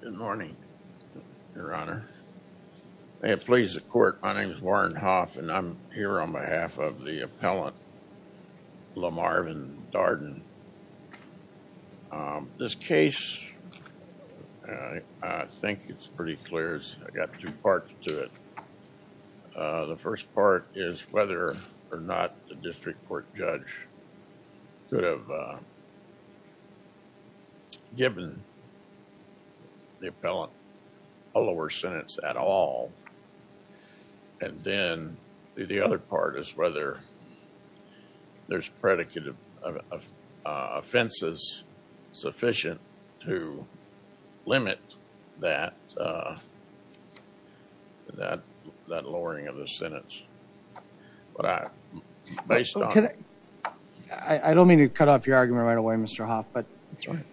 Good morning, your honor. May it please the court, my name is Warren Hoff and I'm here on behalf of the appellant Lamarvin T. Darden. This case, I think it's pretty clear, I've got two parts to it. The first part is whether or not the district court judge could have given the appellant a lower sentence at all. And then the other part is whether there's predicated offenses sufficient to limit that lowering of the sentence. I don't mean to cut off your argument right away, Mr. Hoff, but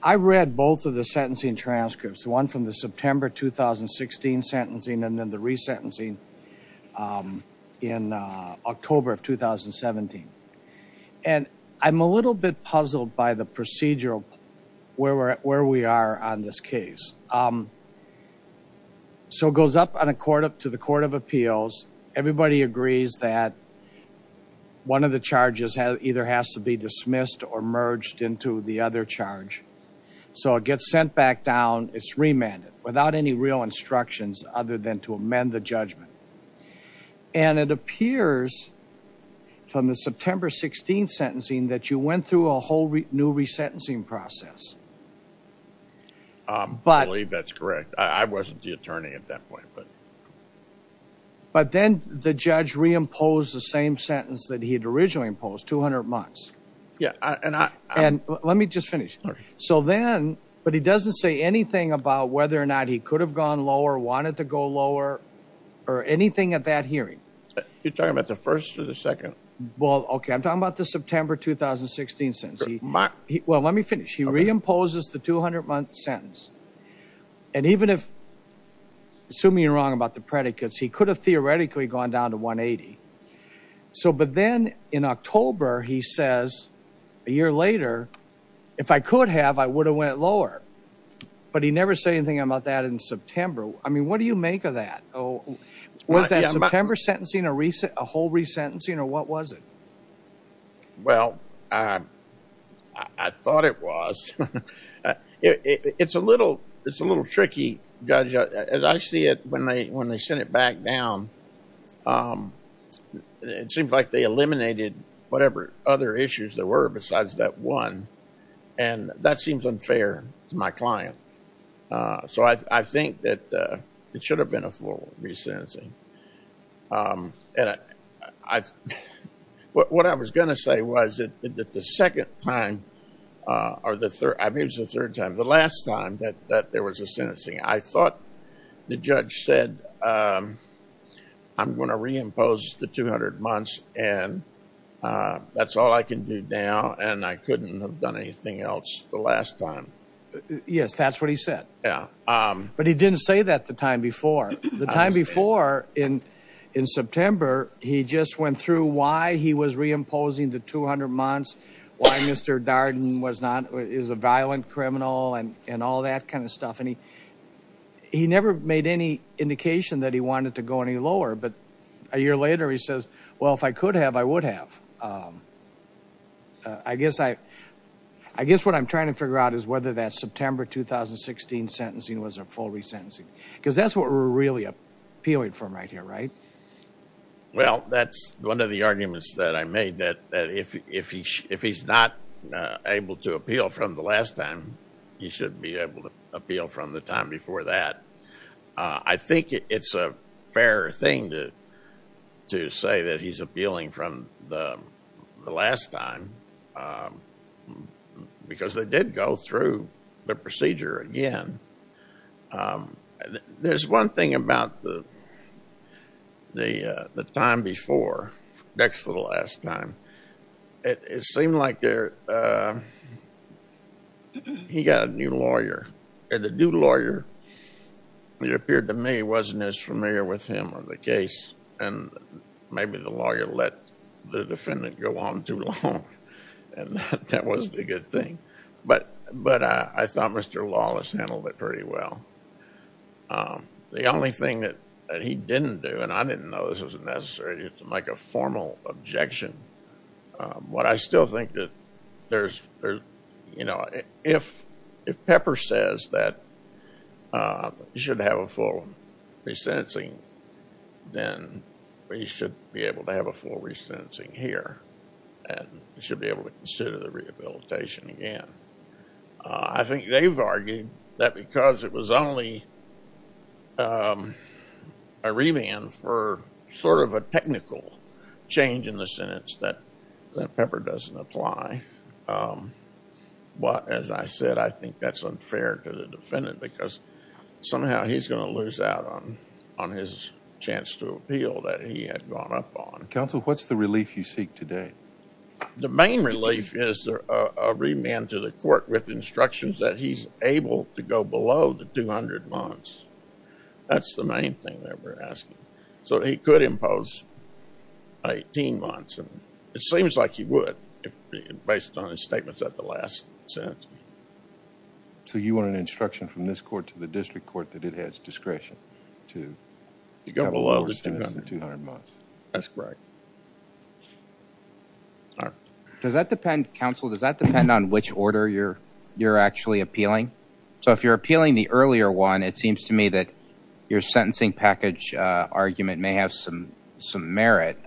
I read both of the sentencing transcripts, one from the September 2016 sentencing and then the resentencing in October of 2017. And I'm a little bit puzzled by the procedural where we are on this case. So it goes up to the court of appeals. Everybody agrees that one of the charges either has to be dismissed or merged into the other charge. So it gets sent back down. It's remanded without any real instructions other than to amend the judgment. And it appears from the September 16th sentencing that you went through a whole new resentencing process. I believe that's correct. I wasn't the attorney at that point. But then the judge reimposed the same sentence that he had originally imposed, 200 months. And let me just finish. So then, but he doesn't say anything about whether or not he could have gone lower, wanted to go lower or anything at that hearing. You're talking about the first or the second? Well, OK, I'm talking about the September 2016 sentence. Well, let me finish. He reimposes the 200 month sentence. And even if, assuming you're wrong about the predicates, he could have theoretically gone down to 180. So but then in October, he says a year later, if I could have, I would have went lower. But he never said anything about that in September. I mean, what do you make of that? Was that September sentencing a whole resentencing or what was it? Well, I thought it was. It's a little tricky. As I see it, when they sent it back down, it seems like they eliminated whatever other issues there were besides that one. And that seems unfair to my client. So I think that it should have been a full resentencing. And I what I was going to say was that the second time or the third time, the last time that there was a sentencing, I thought the judge said, I'm going to reimpose the 200 months. And that's all I can do now. And I couldn't have done anything else the last time. Yes, that's what he said. Yeah. But he didn't say that the time before. The time before in in September, he just went through why he was reimposing the 200 months, why Mr. Darden was not is a violent criminal and and all that kind of stuff. And he he never made any indication that he wanted to go any lower. But a year later, he says, well, if I could have, I would have. I guess I I guess what I'm trying to figure out is whether that September 2016 sentencing was a full resentencing, because that's what we're really appealing from right here. Right. Well, that's one of the arguments that I made that if if he if he's not able to appeal from the last time, he should be able to appeal from the time before that. I think it's a fair thing to to say that he's appealing from the last time because they did go through the procedure again. There's one thing about the the the time before next to the last time. It seemed like there he got a new lawyer and the new lawyer. It appeared to me he wasn't as familiar with him on the case and maybe the lawyer let the defendant go on too long. And that wasn't a good thing. But but I thought Mr. Lawless handled it pretty well. The only thing that he didn't do, and I didn't know this was necessary to make a formal objection. But I still think that there's, you know, if if Pepper says that you should have a full resentencing, then we should be able to have a full resentencing here and should be able to consider the rehabilitation again. I think they've argued that because it was only a remand for sort of a technical change in the sentence that Pepper doesn't apply. But as I said, I think that's unfair to the defendant because somehow he's going to lose out on on his chance to appeal that he had gone up on. Counsel, what's the relief you seek today? The main relief is a remand to the court with instructions that he's able to go below the 200 months. That's the main thing that we're asking. So he could impose 18 months. It seems like he would, based on his statements at the last sentence. So you want an instruction from this court to the district court that it has discretion to go below the 200 months? That's correct. Does that depend, counsel, does that depend on which order you're you're actually appealing? So if you're appealing the earlier one, it seems to me that your sentencing package argument may have some some merit,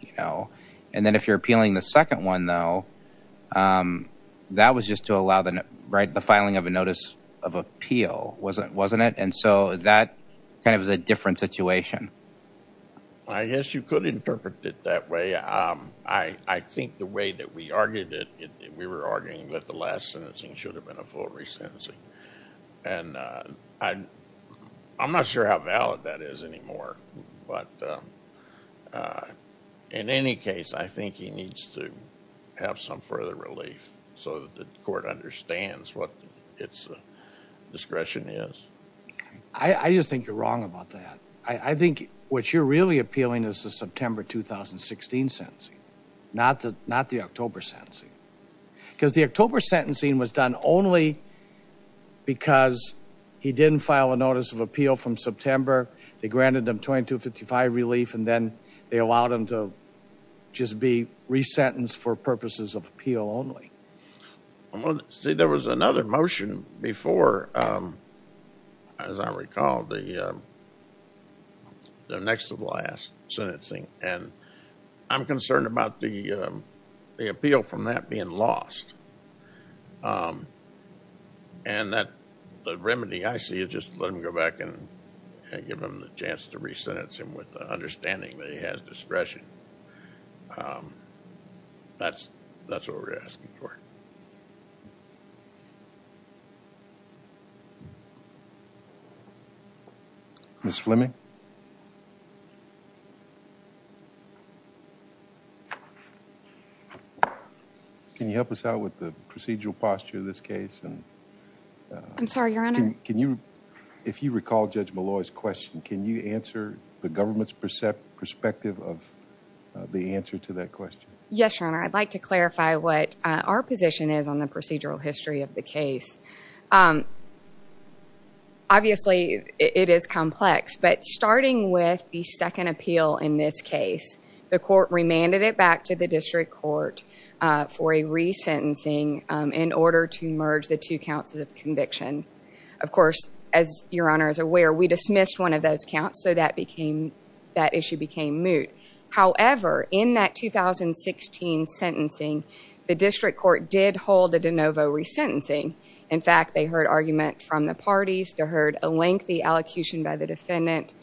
you know. And then if you're appealing the second one, though, that was just to allow the filing of a notice of appeal, wasn't it? And so that kind of is a different situation. I guess you could interpret it that way. I think the way that we argued it, we were arguing that the last sentencing should have been a full resentencing. And I'm not sure how valid that is anymore. But in any case, I think he needs to have some further relief so that the court understands what its discretion is. I just think you're wrong about that. I think what you're really appealing is the September 2016 sentencing, not the October sentencing, because the October sentencing was done only because he didn't file a notice of appeal from September. They granted him 2255 relief and then they allowed him to just be resentenced for purposes of appeal only. See, there was another motion before, as I recall, the next to the last sentencing. And I'm concerned about the appeal from that being lost. And the remedy I see is just let him go back and give him the chance to resentence him with the understanding that he has discretion. That's what we're asking for. Ms. Fleming? Can you help us out with the procedural posture of this case? I'm sorry, Your Honor? Can you, if you recall Judge Malloy's question, can you answer the government's perspective of the answer to that question? Yes, Your Honor. I'd like to clarify what our position is on the procedural history of the case. Obviously, it is complex, but starting with the second appeal in this case, the court remanded it back to the district court for a resentencing in order to merge the two counts of conviction. Of course, as Your Honor is aware, we dismissed one of those counts, so that issue became moot. However, in that 2016 sentencing, the district court did hold a de novo resentencing. In fact, they heard argument from the parties. They heard a lengthy allocution by the defendant.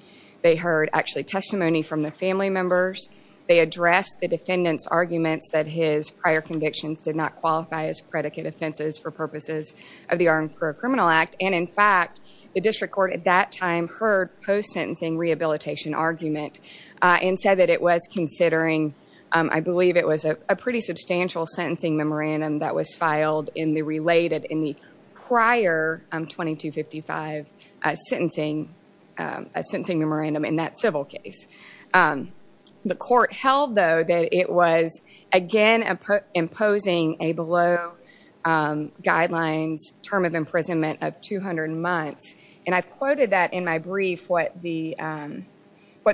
They heard, actually, testimony from the family members. They addressed the defendant's arguments that his prior convictions did not qualify as predicate offenses for purposes of the Armed Career Criminal Act. In fact, the district court at that time heard post-sentencing rehabilitation argument and said that it was considering, I believe it was a pretty substantial sentencing memorandum that was filed in the prior 2255 sentencing memorandum in that civil case. The court held, though, that it was, again, imposing a below guidelines term of imprisonment of 200 months. I've quoted that in my brief, what the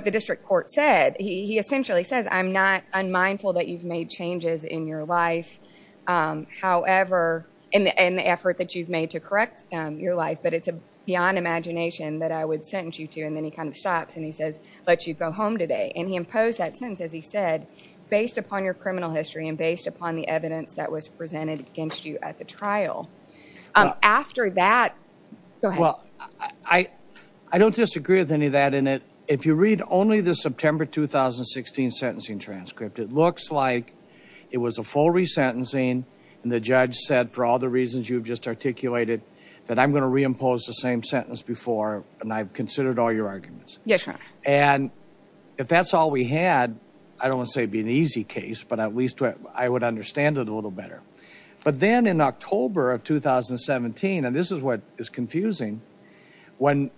district court said. He essentially says, I'm not unmindful that you've made changes in your life, however, in the effort that you've made to correct your life, but it's beyond imagination that I would sentence you to. Then he kind of stops and he says, let you go home today. He imposed that sentence, as he said, based upon your criminal history and based upon the evidence that was presented against you at the trial. After that, go ahead. I don't disagree with any of that. If you read only the September 2016 sentencing transcript, it looks like it was a full resentencing. And the judge said, for all the reasons you've just articulated, that I'm going to reimpose the same sentence before and I've considered all your arguments. And if that's all we had, I don't want to say it'd be an easy case, but at least I would understand it a little better. But then in October of 2017, and this is what is confusing, when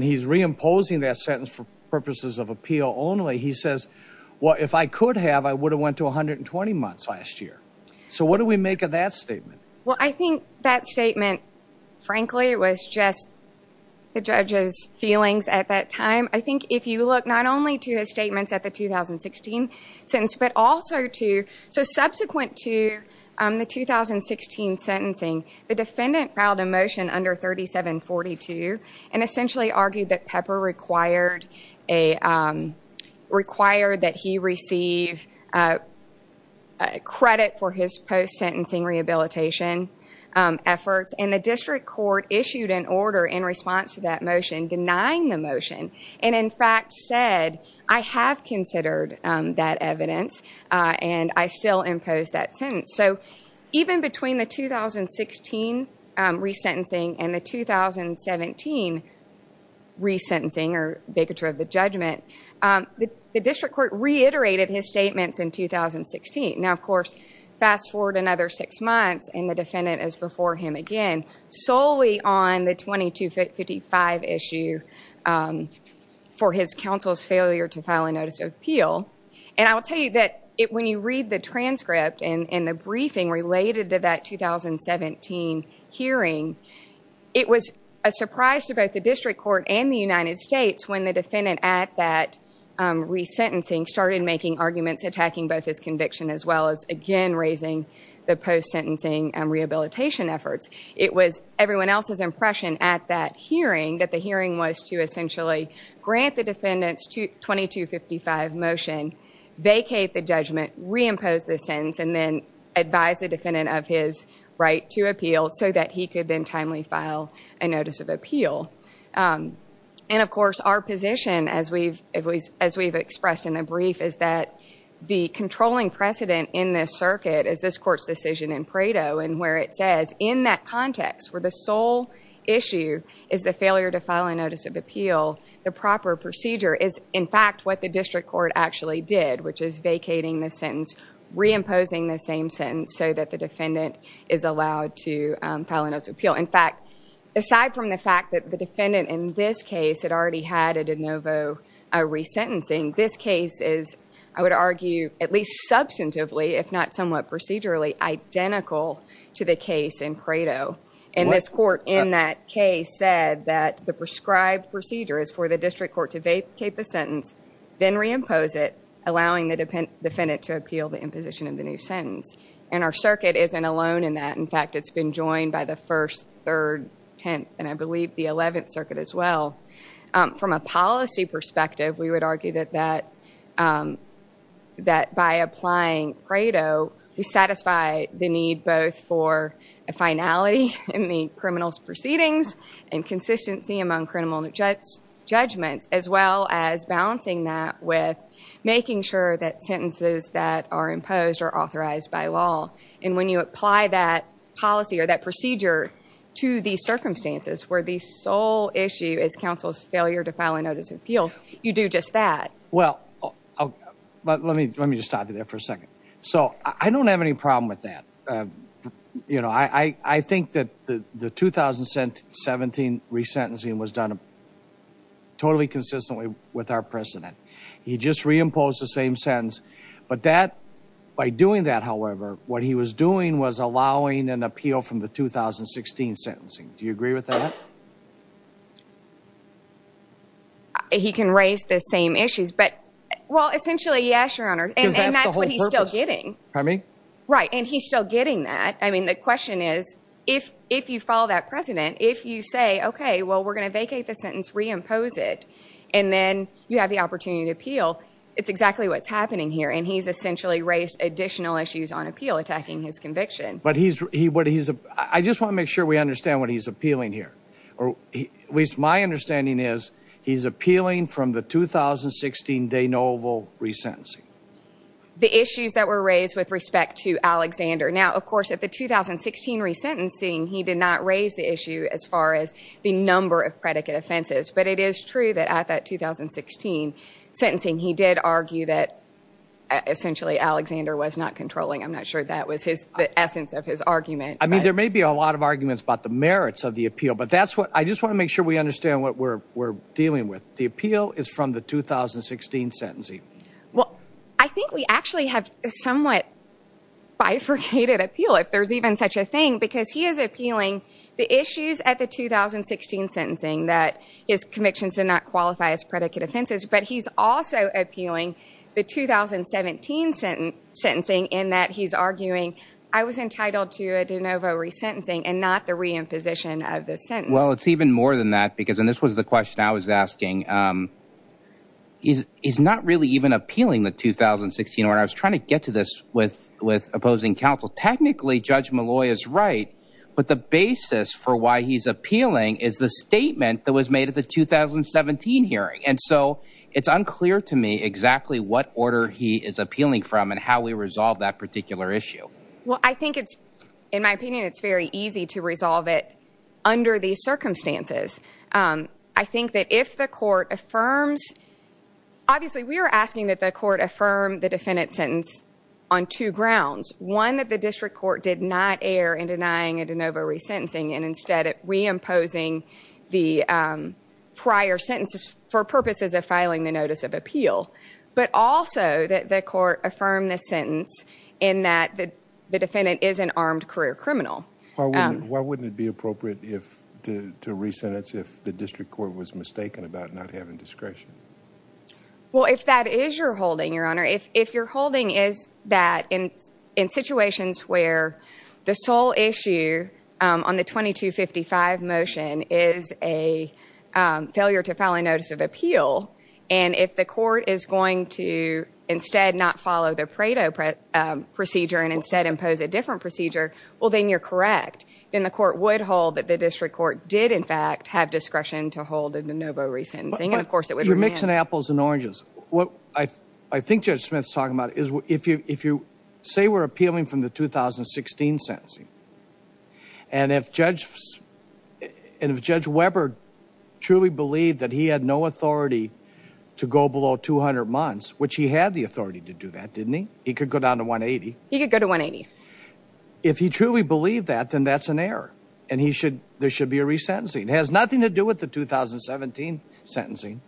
he's reimposing that sentence for purposes of appeal only, he says, well, if I could have, I would have went to 120 months last year. So what do we make of that statement? Well, I think that statement, frankly, was just the judge's feelings at that time. I think if you look not only to his statements at the 2016 sentence, but also to subsequent to the 2016 sentencing, the defendant filed a motion under 3742 and essentially argued that Pepper required that he receive credit for his post-sentencing rehabilitation efforts. And the district court issued an order in response to that motion denying the motion and, in fact, said, I have considered that evidence and I still impose that sentence. So even between the 2016 resentencing and the 2017 resentencing or vacatur of the judgment, the district court reiterated his statements in 2016. Now, of course, fast forward another six months and the defendant is before him again solely on the 2255 issue for his counsel's failure to file a notice of appeal. And I will tell you that when you read the transcript and the briefing related to that 2017 hearing, it was a surprise to both the district court and the United States when the defendant at that resentencing started making arguments attacking both his conviction as well as, again, raising the post-sentencing rehabilitation efforts. It was everyone else's impression at that hearing that the hearing was to essentially grant the defendant's 2255 motion, vacate the judgment, reimpose the sentence, and then advise the defendant of his right to appeal so that he could then timely file a notice of appeal. And, of course, our position, as we've expressed in the brief, is that the controlling precedent in this circuit is this court's decision in Pareto in where it says, in that context where the sole issue is the failure to file a notice of appeal, the proper procedure is, in fact, what the district court actually did, which is vacating the sentence, reimposing the same sentence so that the defendant is allowed to file a notice of appeal. In fact, aside from the fact that the defendant in this case had already had a de novo resentencing, this case is, I would argue, at least substantively, if not somewhat procedurally, identical to the case in Pareto. And this court, in that case, said that the prescribed procedure is for the district court to vacate the sentence, then reimpose it, allowing the defendant to appeal the imposition of the new sentence. And our circuit isn't alone in that. In fact, it's been joined by the First, Third, Tenth, and I believe the Eleventh Circuit as well. From a policy perspective, we would argue that by applying Pareto, we satisfy the need both for a finality in the criminal's proceedings and consistency among criminal judgments, as well as balancing that with making sure that sentences that are imposed are authorized by law. And when you apply that policy or that procedure to these circumstances where the sole issue is counsel's failure to file a notice of appeal, you do just that. Well, let me just stop you there for a second. So, I don't have any problem with that. You know, I think that the 2017 resentencing was done totally consistently with our precedent. He just reimposed the same sentence. But that, by doing that, however, what he was doing was allowing an appeal from the 2016 sentencing. Do you agree with that? He can raise the same issues. But, well, essentially, yes, Your Honor. Because that's the whole purpose. And that's what he's still getting. Pardon me? Right. And he's still getting that. I mean, the question is, if you follow that precedent, if you say, okay, well, we're going to vacate the sentence, reimpose it, and then you have the opportunity to appeal, it's exactly what's happening here. And he's essentially raised additional issues on appeal attacking his conviction. But he's – I just want to make sure we understand what he's appealing here. At least my understanding is he's appealing from the 2016 de novo resentencing. The issues that were raised with respect to Alexander. Now, of course, at the 2016 resentencing, he did not raise the issue as far as the number of predicate offenses. But it is true that at that 2016 sentencing, he did argue that essentially Alexander was not controlling. I'm not sure that was the essence of his argument. I mean, there may be a lot of arguments about the merits of the appeal. But that's what – I just want to make sure we understand what we're dealing with. The appeal is from the 2016 sentencing. Well, I think we actually have a somewhat bifurcated appeal, if there's even such a thing. Because he is appealing the issues at the 2016 sentencing that his convictions did not qualify as predicate offenses. But he's also appealing the 2017 sentencing in that he's arguing I was entitled to a de novo resentencing and not the reimposition of the sentence. Well, it's even more than that because – and this was the question I was asking. He's not really even appealing the 2016 order. I was trying to get to this with opposing counsel. Technically, Judge Malloy is right. But the basis for why he's appealing is the statement that was made at the 2017 hearing. And so it's unclear to me exactly what order he is appealing from and how we resolve that particular issue. Well, I think it's – in my opinion, it's very easy to resolve it under these circumstances. I think that if the court affirms – obviously, we are asking that the court affirm the defendant's sentence on two grounds. One, that the district court did not err in denying a de novo resentencing and instead reimposing the prior sentences for purposes of filing the notice of appeal. But also that the court affirm the sentence in that the defendant is an armed career criminal. Why wouldn't it be appropriate to resentence if the district court was mistaken about not having discretion? Well, if that is your holding, Your Honor, if your holding is that in situations where the sole issue on the 2255 motion is a failure to file a notice of appeal and if the court is going to instead not follow the Pareto procedure and instead impose a different procedure, well, then you're correct. Then the court would hold that the district court did, in fact, have discretion to hold a de novo resentencing. And, of course, it would remain – You're mixing apples and oranges. What I think Judge Smith's talking about is if you say we're appealing from the 2016 sentencing and if Judge Weber truly believed that he had no authority to go below 200 months, which he had the authority to do that, didn't he? He could go down to 180. He could go to 180. If he truly believed that, then that's an error and there should be a resentencing. It has nothing to do with the 2017 sentencing.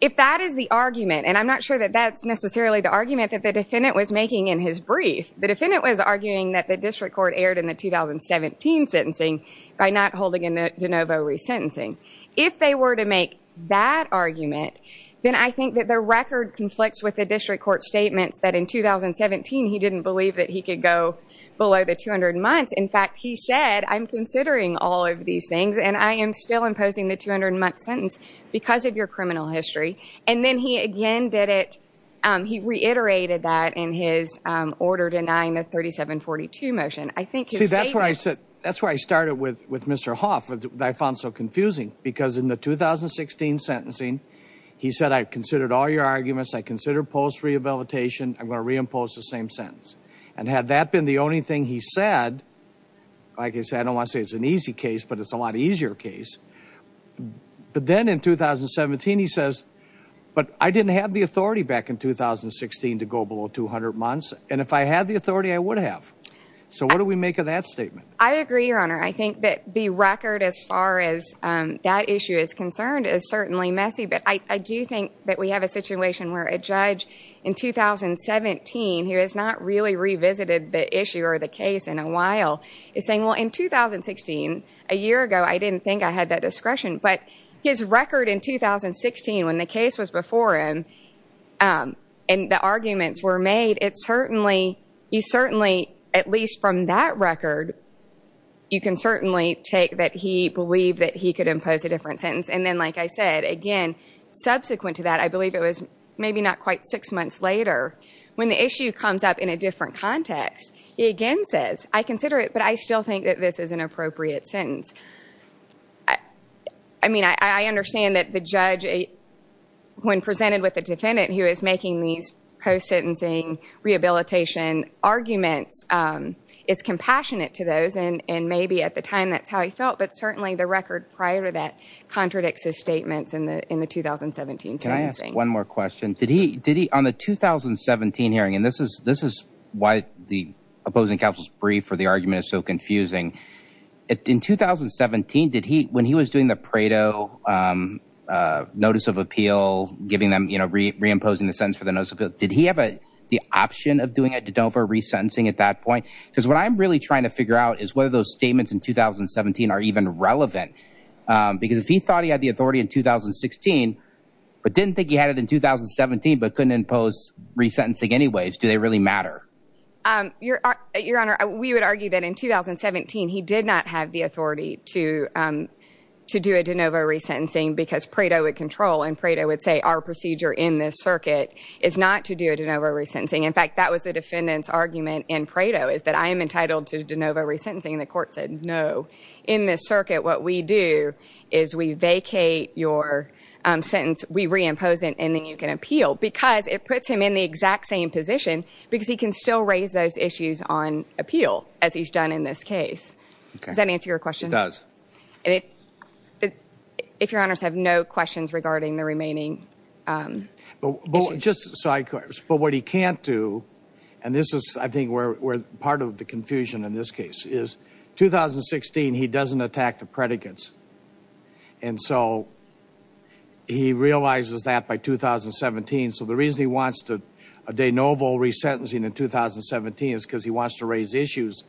If that is the argument, and I'm not sure that that's necessarily the argument that the defendant was making in his brief, the defendant was arguing that the district court erred in the 2017 sentencing by not holding a de novo resentencing. If they were to make that argument, then I think that the record conflicts with the district court statements that in 2017 he didn't believe that he could go below the 200 months. In fact, he said, I'm considering all of these things and I am still imposing the 200-month sentence because of your criminal history. And then he again did it – he reiterated that in his order denying the 3742 motion. I think his statements – See, that's why I said – that's why I started with Mr. Hoff. I found it so confusing because in the 2016 sentencing, he said I considered all your arguments. I considered post-rehabilitation. I'm going to reimpose the same sentence. And had that been the only thing he said, like I said, I don't want to say it's an easy case, but it's a lot easier case. But then in 2017 he says, but I didn't have the authority back in 2016 to go below 200 months. And if I had the authority, I would have. So what do we make of that statement? I agree, Your Honor. I think that the record as far as that issue is concerned is certainly messy. But I do think that we have a situation where a judge in 2017 who has not really revisited the issue or the case in a while is saying, well, in 2016, a year ago, I didn't think I had that discretion. But his record in 2016 when the case was before him and the arguments were made, it certainly – he certainly, at least from that record, you can certainly take that he believed that he could impose a different sentence. And then, like I said, again, subsequent to that, I believe it was maybe not quite six months later, when the issue comes up in a different context, he again says, I consider it, but I still think that this is an appropriate sentence. I mean, I understand that the judge, when presented with a defendant who is making these post-sentencing rehabilitation arguments, is compassionate to those, and maybe at the time that's how he felt. But certainly the record prior to that contradicts his statements in the 2017 sentencing. Can I ask one more question? Did he – on the 2017 hearing, and this is why the opposing counsel's brief for the argument is so confusing. In 2017, did he – when he was doing the Prado notice of appeal, giving them – reimposing the sentence for the notice of appeal, did he have the option of doing a de novo resentencing at that point? Because what I'm really trying to figure out is whether those statements in 2017 are even relevant. Because if he thought he had the authority in 2016 but didn't think he had it in 2017 but couldn't impose resentencing anyways, do they really matter? Your Honor, we would argue that in 2017 he did not have the authority to do a de novo resentencing because Prado would control, and Prado would say our procedure in this circuit is not to do a de novo resentencing. In fact, that was the defendant's argument in Prado is that I am entitled to de novo resentencing, and the court said no. In this circuit, what we do is we vacate your sentence, we reimpose it, and then you can appeal. Because it puts him in the exact same position because he can still raise those issues on appeal as he's done in this case. Does that answer your question? It does. If your honors have no questions regarding the remaining issues. But what he can't do, and this is I think part of the confusion in this case, is 2016 he doesn't attack the predicates. And so he realizes that by 2017. So the reason he wants a de novo resentencing in 2017 is because he wants to raise issues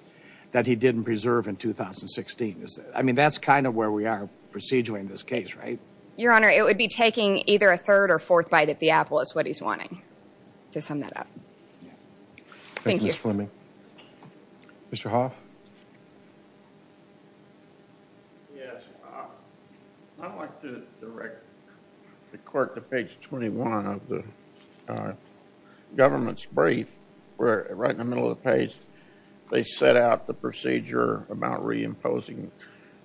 that he didn't preserve in 2016. I mean, that's kind of where we are procedurally in this case, right? Your honor, it would be taking either a third or fourth bite at the apple is what he's wanting to sum that up. Thank you, Ms. Fleming. Mr. Hoff? Yes, I'd like to direct the court to page 21 of the government's brief. Right in the middle of the page, they set out the procedure about reimposing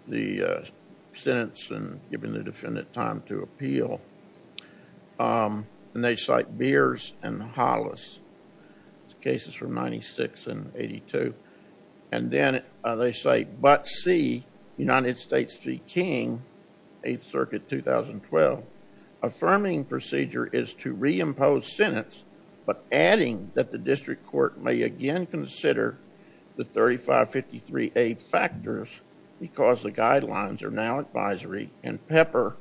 the sentence and giving the defendant time to appeal. And they cite Beers and Hollis. Cases from 96 and 82. And then they cite Butt C., United States v. King, 8th Circuit, 2012. Affirming procedure is to reimpose sentence, but adding that the district court may again consider the 3553A factors because the guidelines are now advisory and Pepper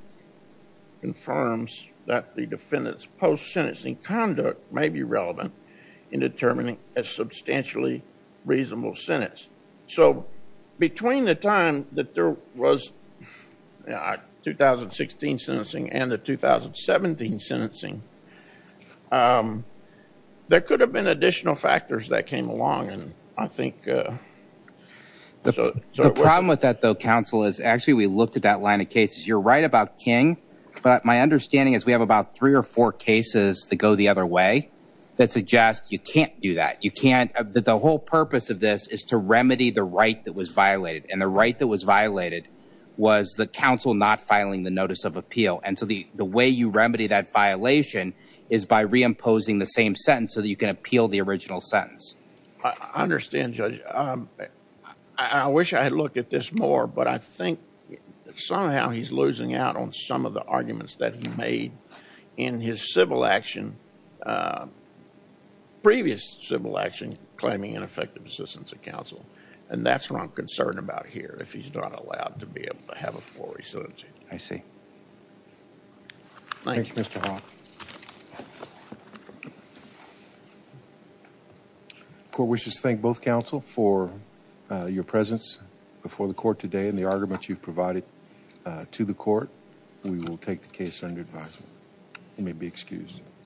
confirms that the defendant's post-sentencing conduct may be relevant. In determining a substantially reasonable sentence. So, between the time that there was 2016 sentencing and the 2017 sentencing, there could have been additional factors that came along. And I think... The problem with that, though, counsel, is actually we looked at that line of cases. You're right about King. But my understanding is we have about three or four cases that go the other way. That suggests you can't do that. You can't... The whole purpose of this is to remedy the right that was violated. And the right that was violated was the counsel not filing the notice of appeal. And so the way you remedy that violation is by reimposing the same sentence so that you can appeal the original sentence. I understand, Judge. I wish I had looked at this more. But I think somehow he's losing out on some of the arguments that he made in his civil action. Previous civil action claiming ineffective assistance of counsel. And that's what I'm concerned about here. If he's not allowed to be able to have a full residency. I see. Thank you. Thank you, Mr. Hawke. Court wishes to thank both counsel for your presence before the court today and the argument you've provided to the court. We will take the case under advisement. You may be excused.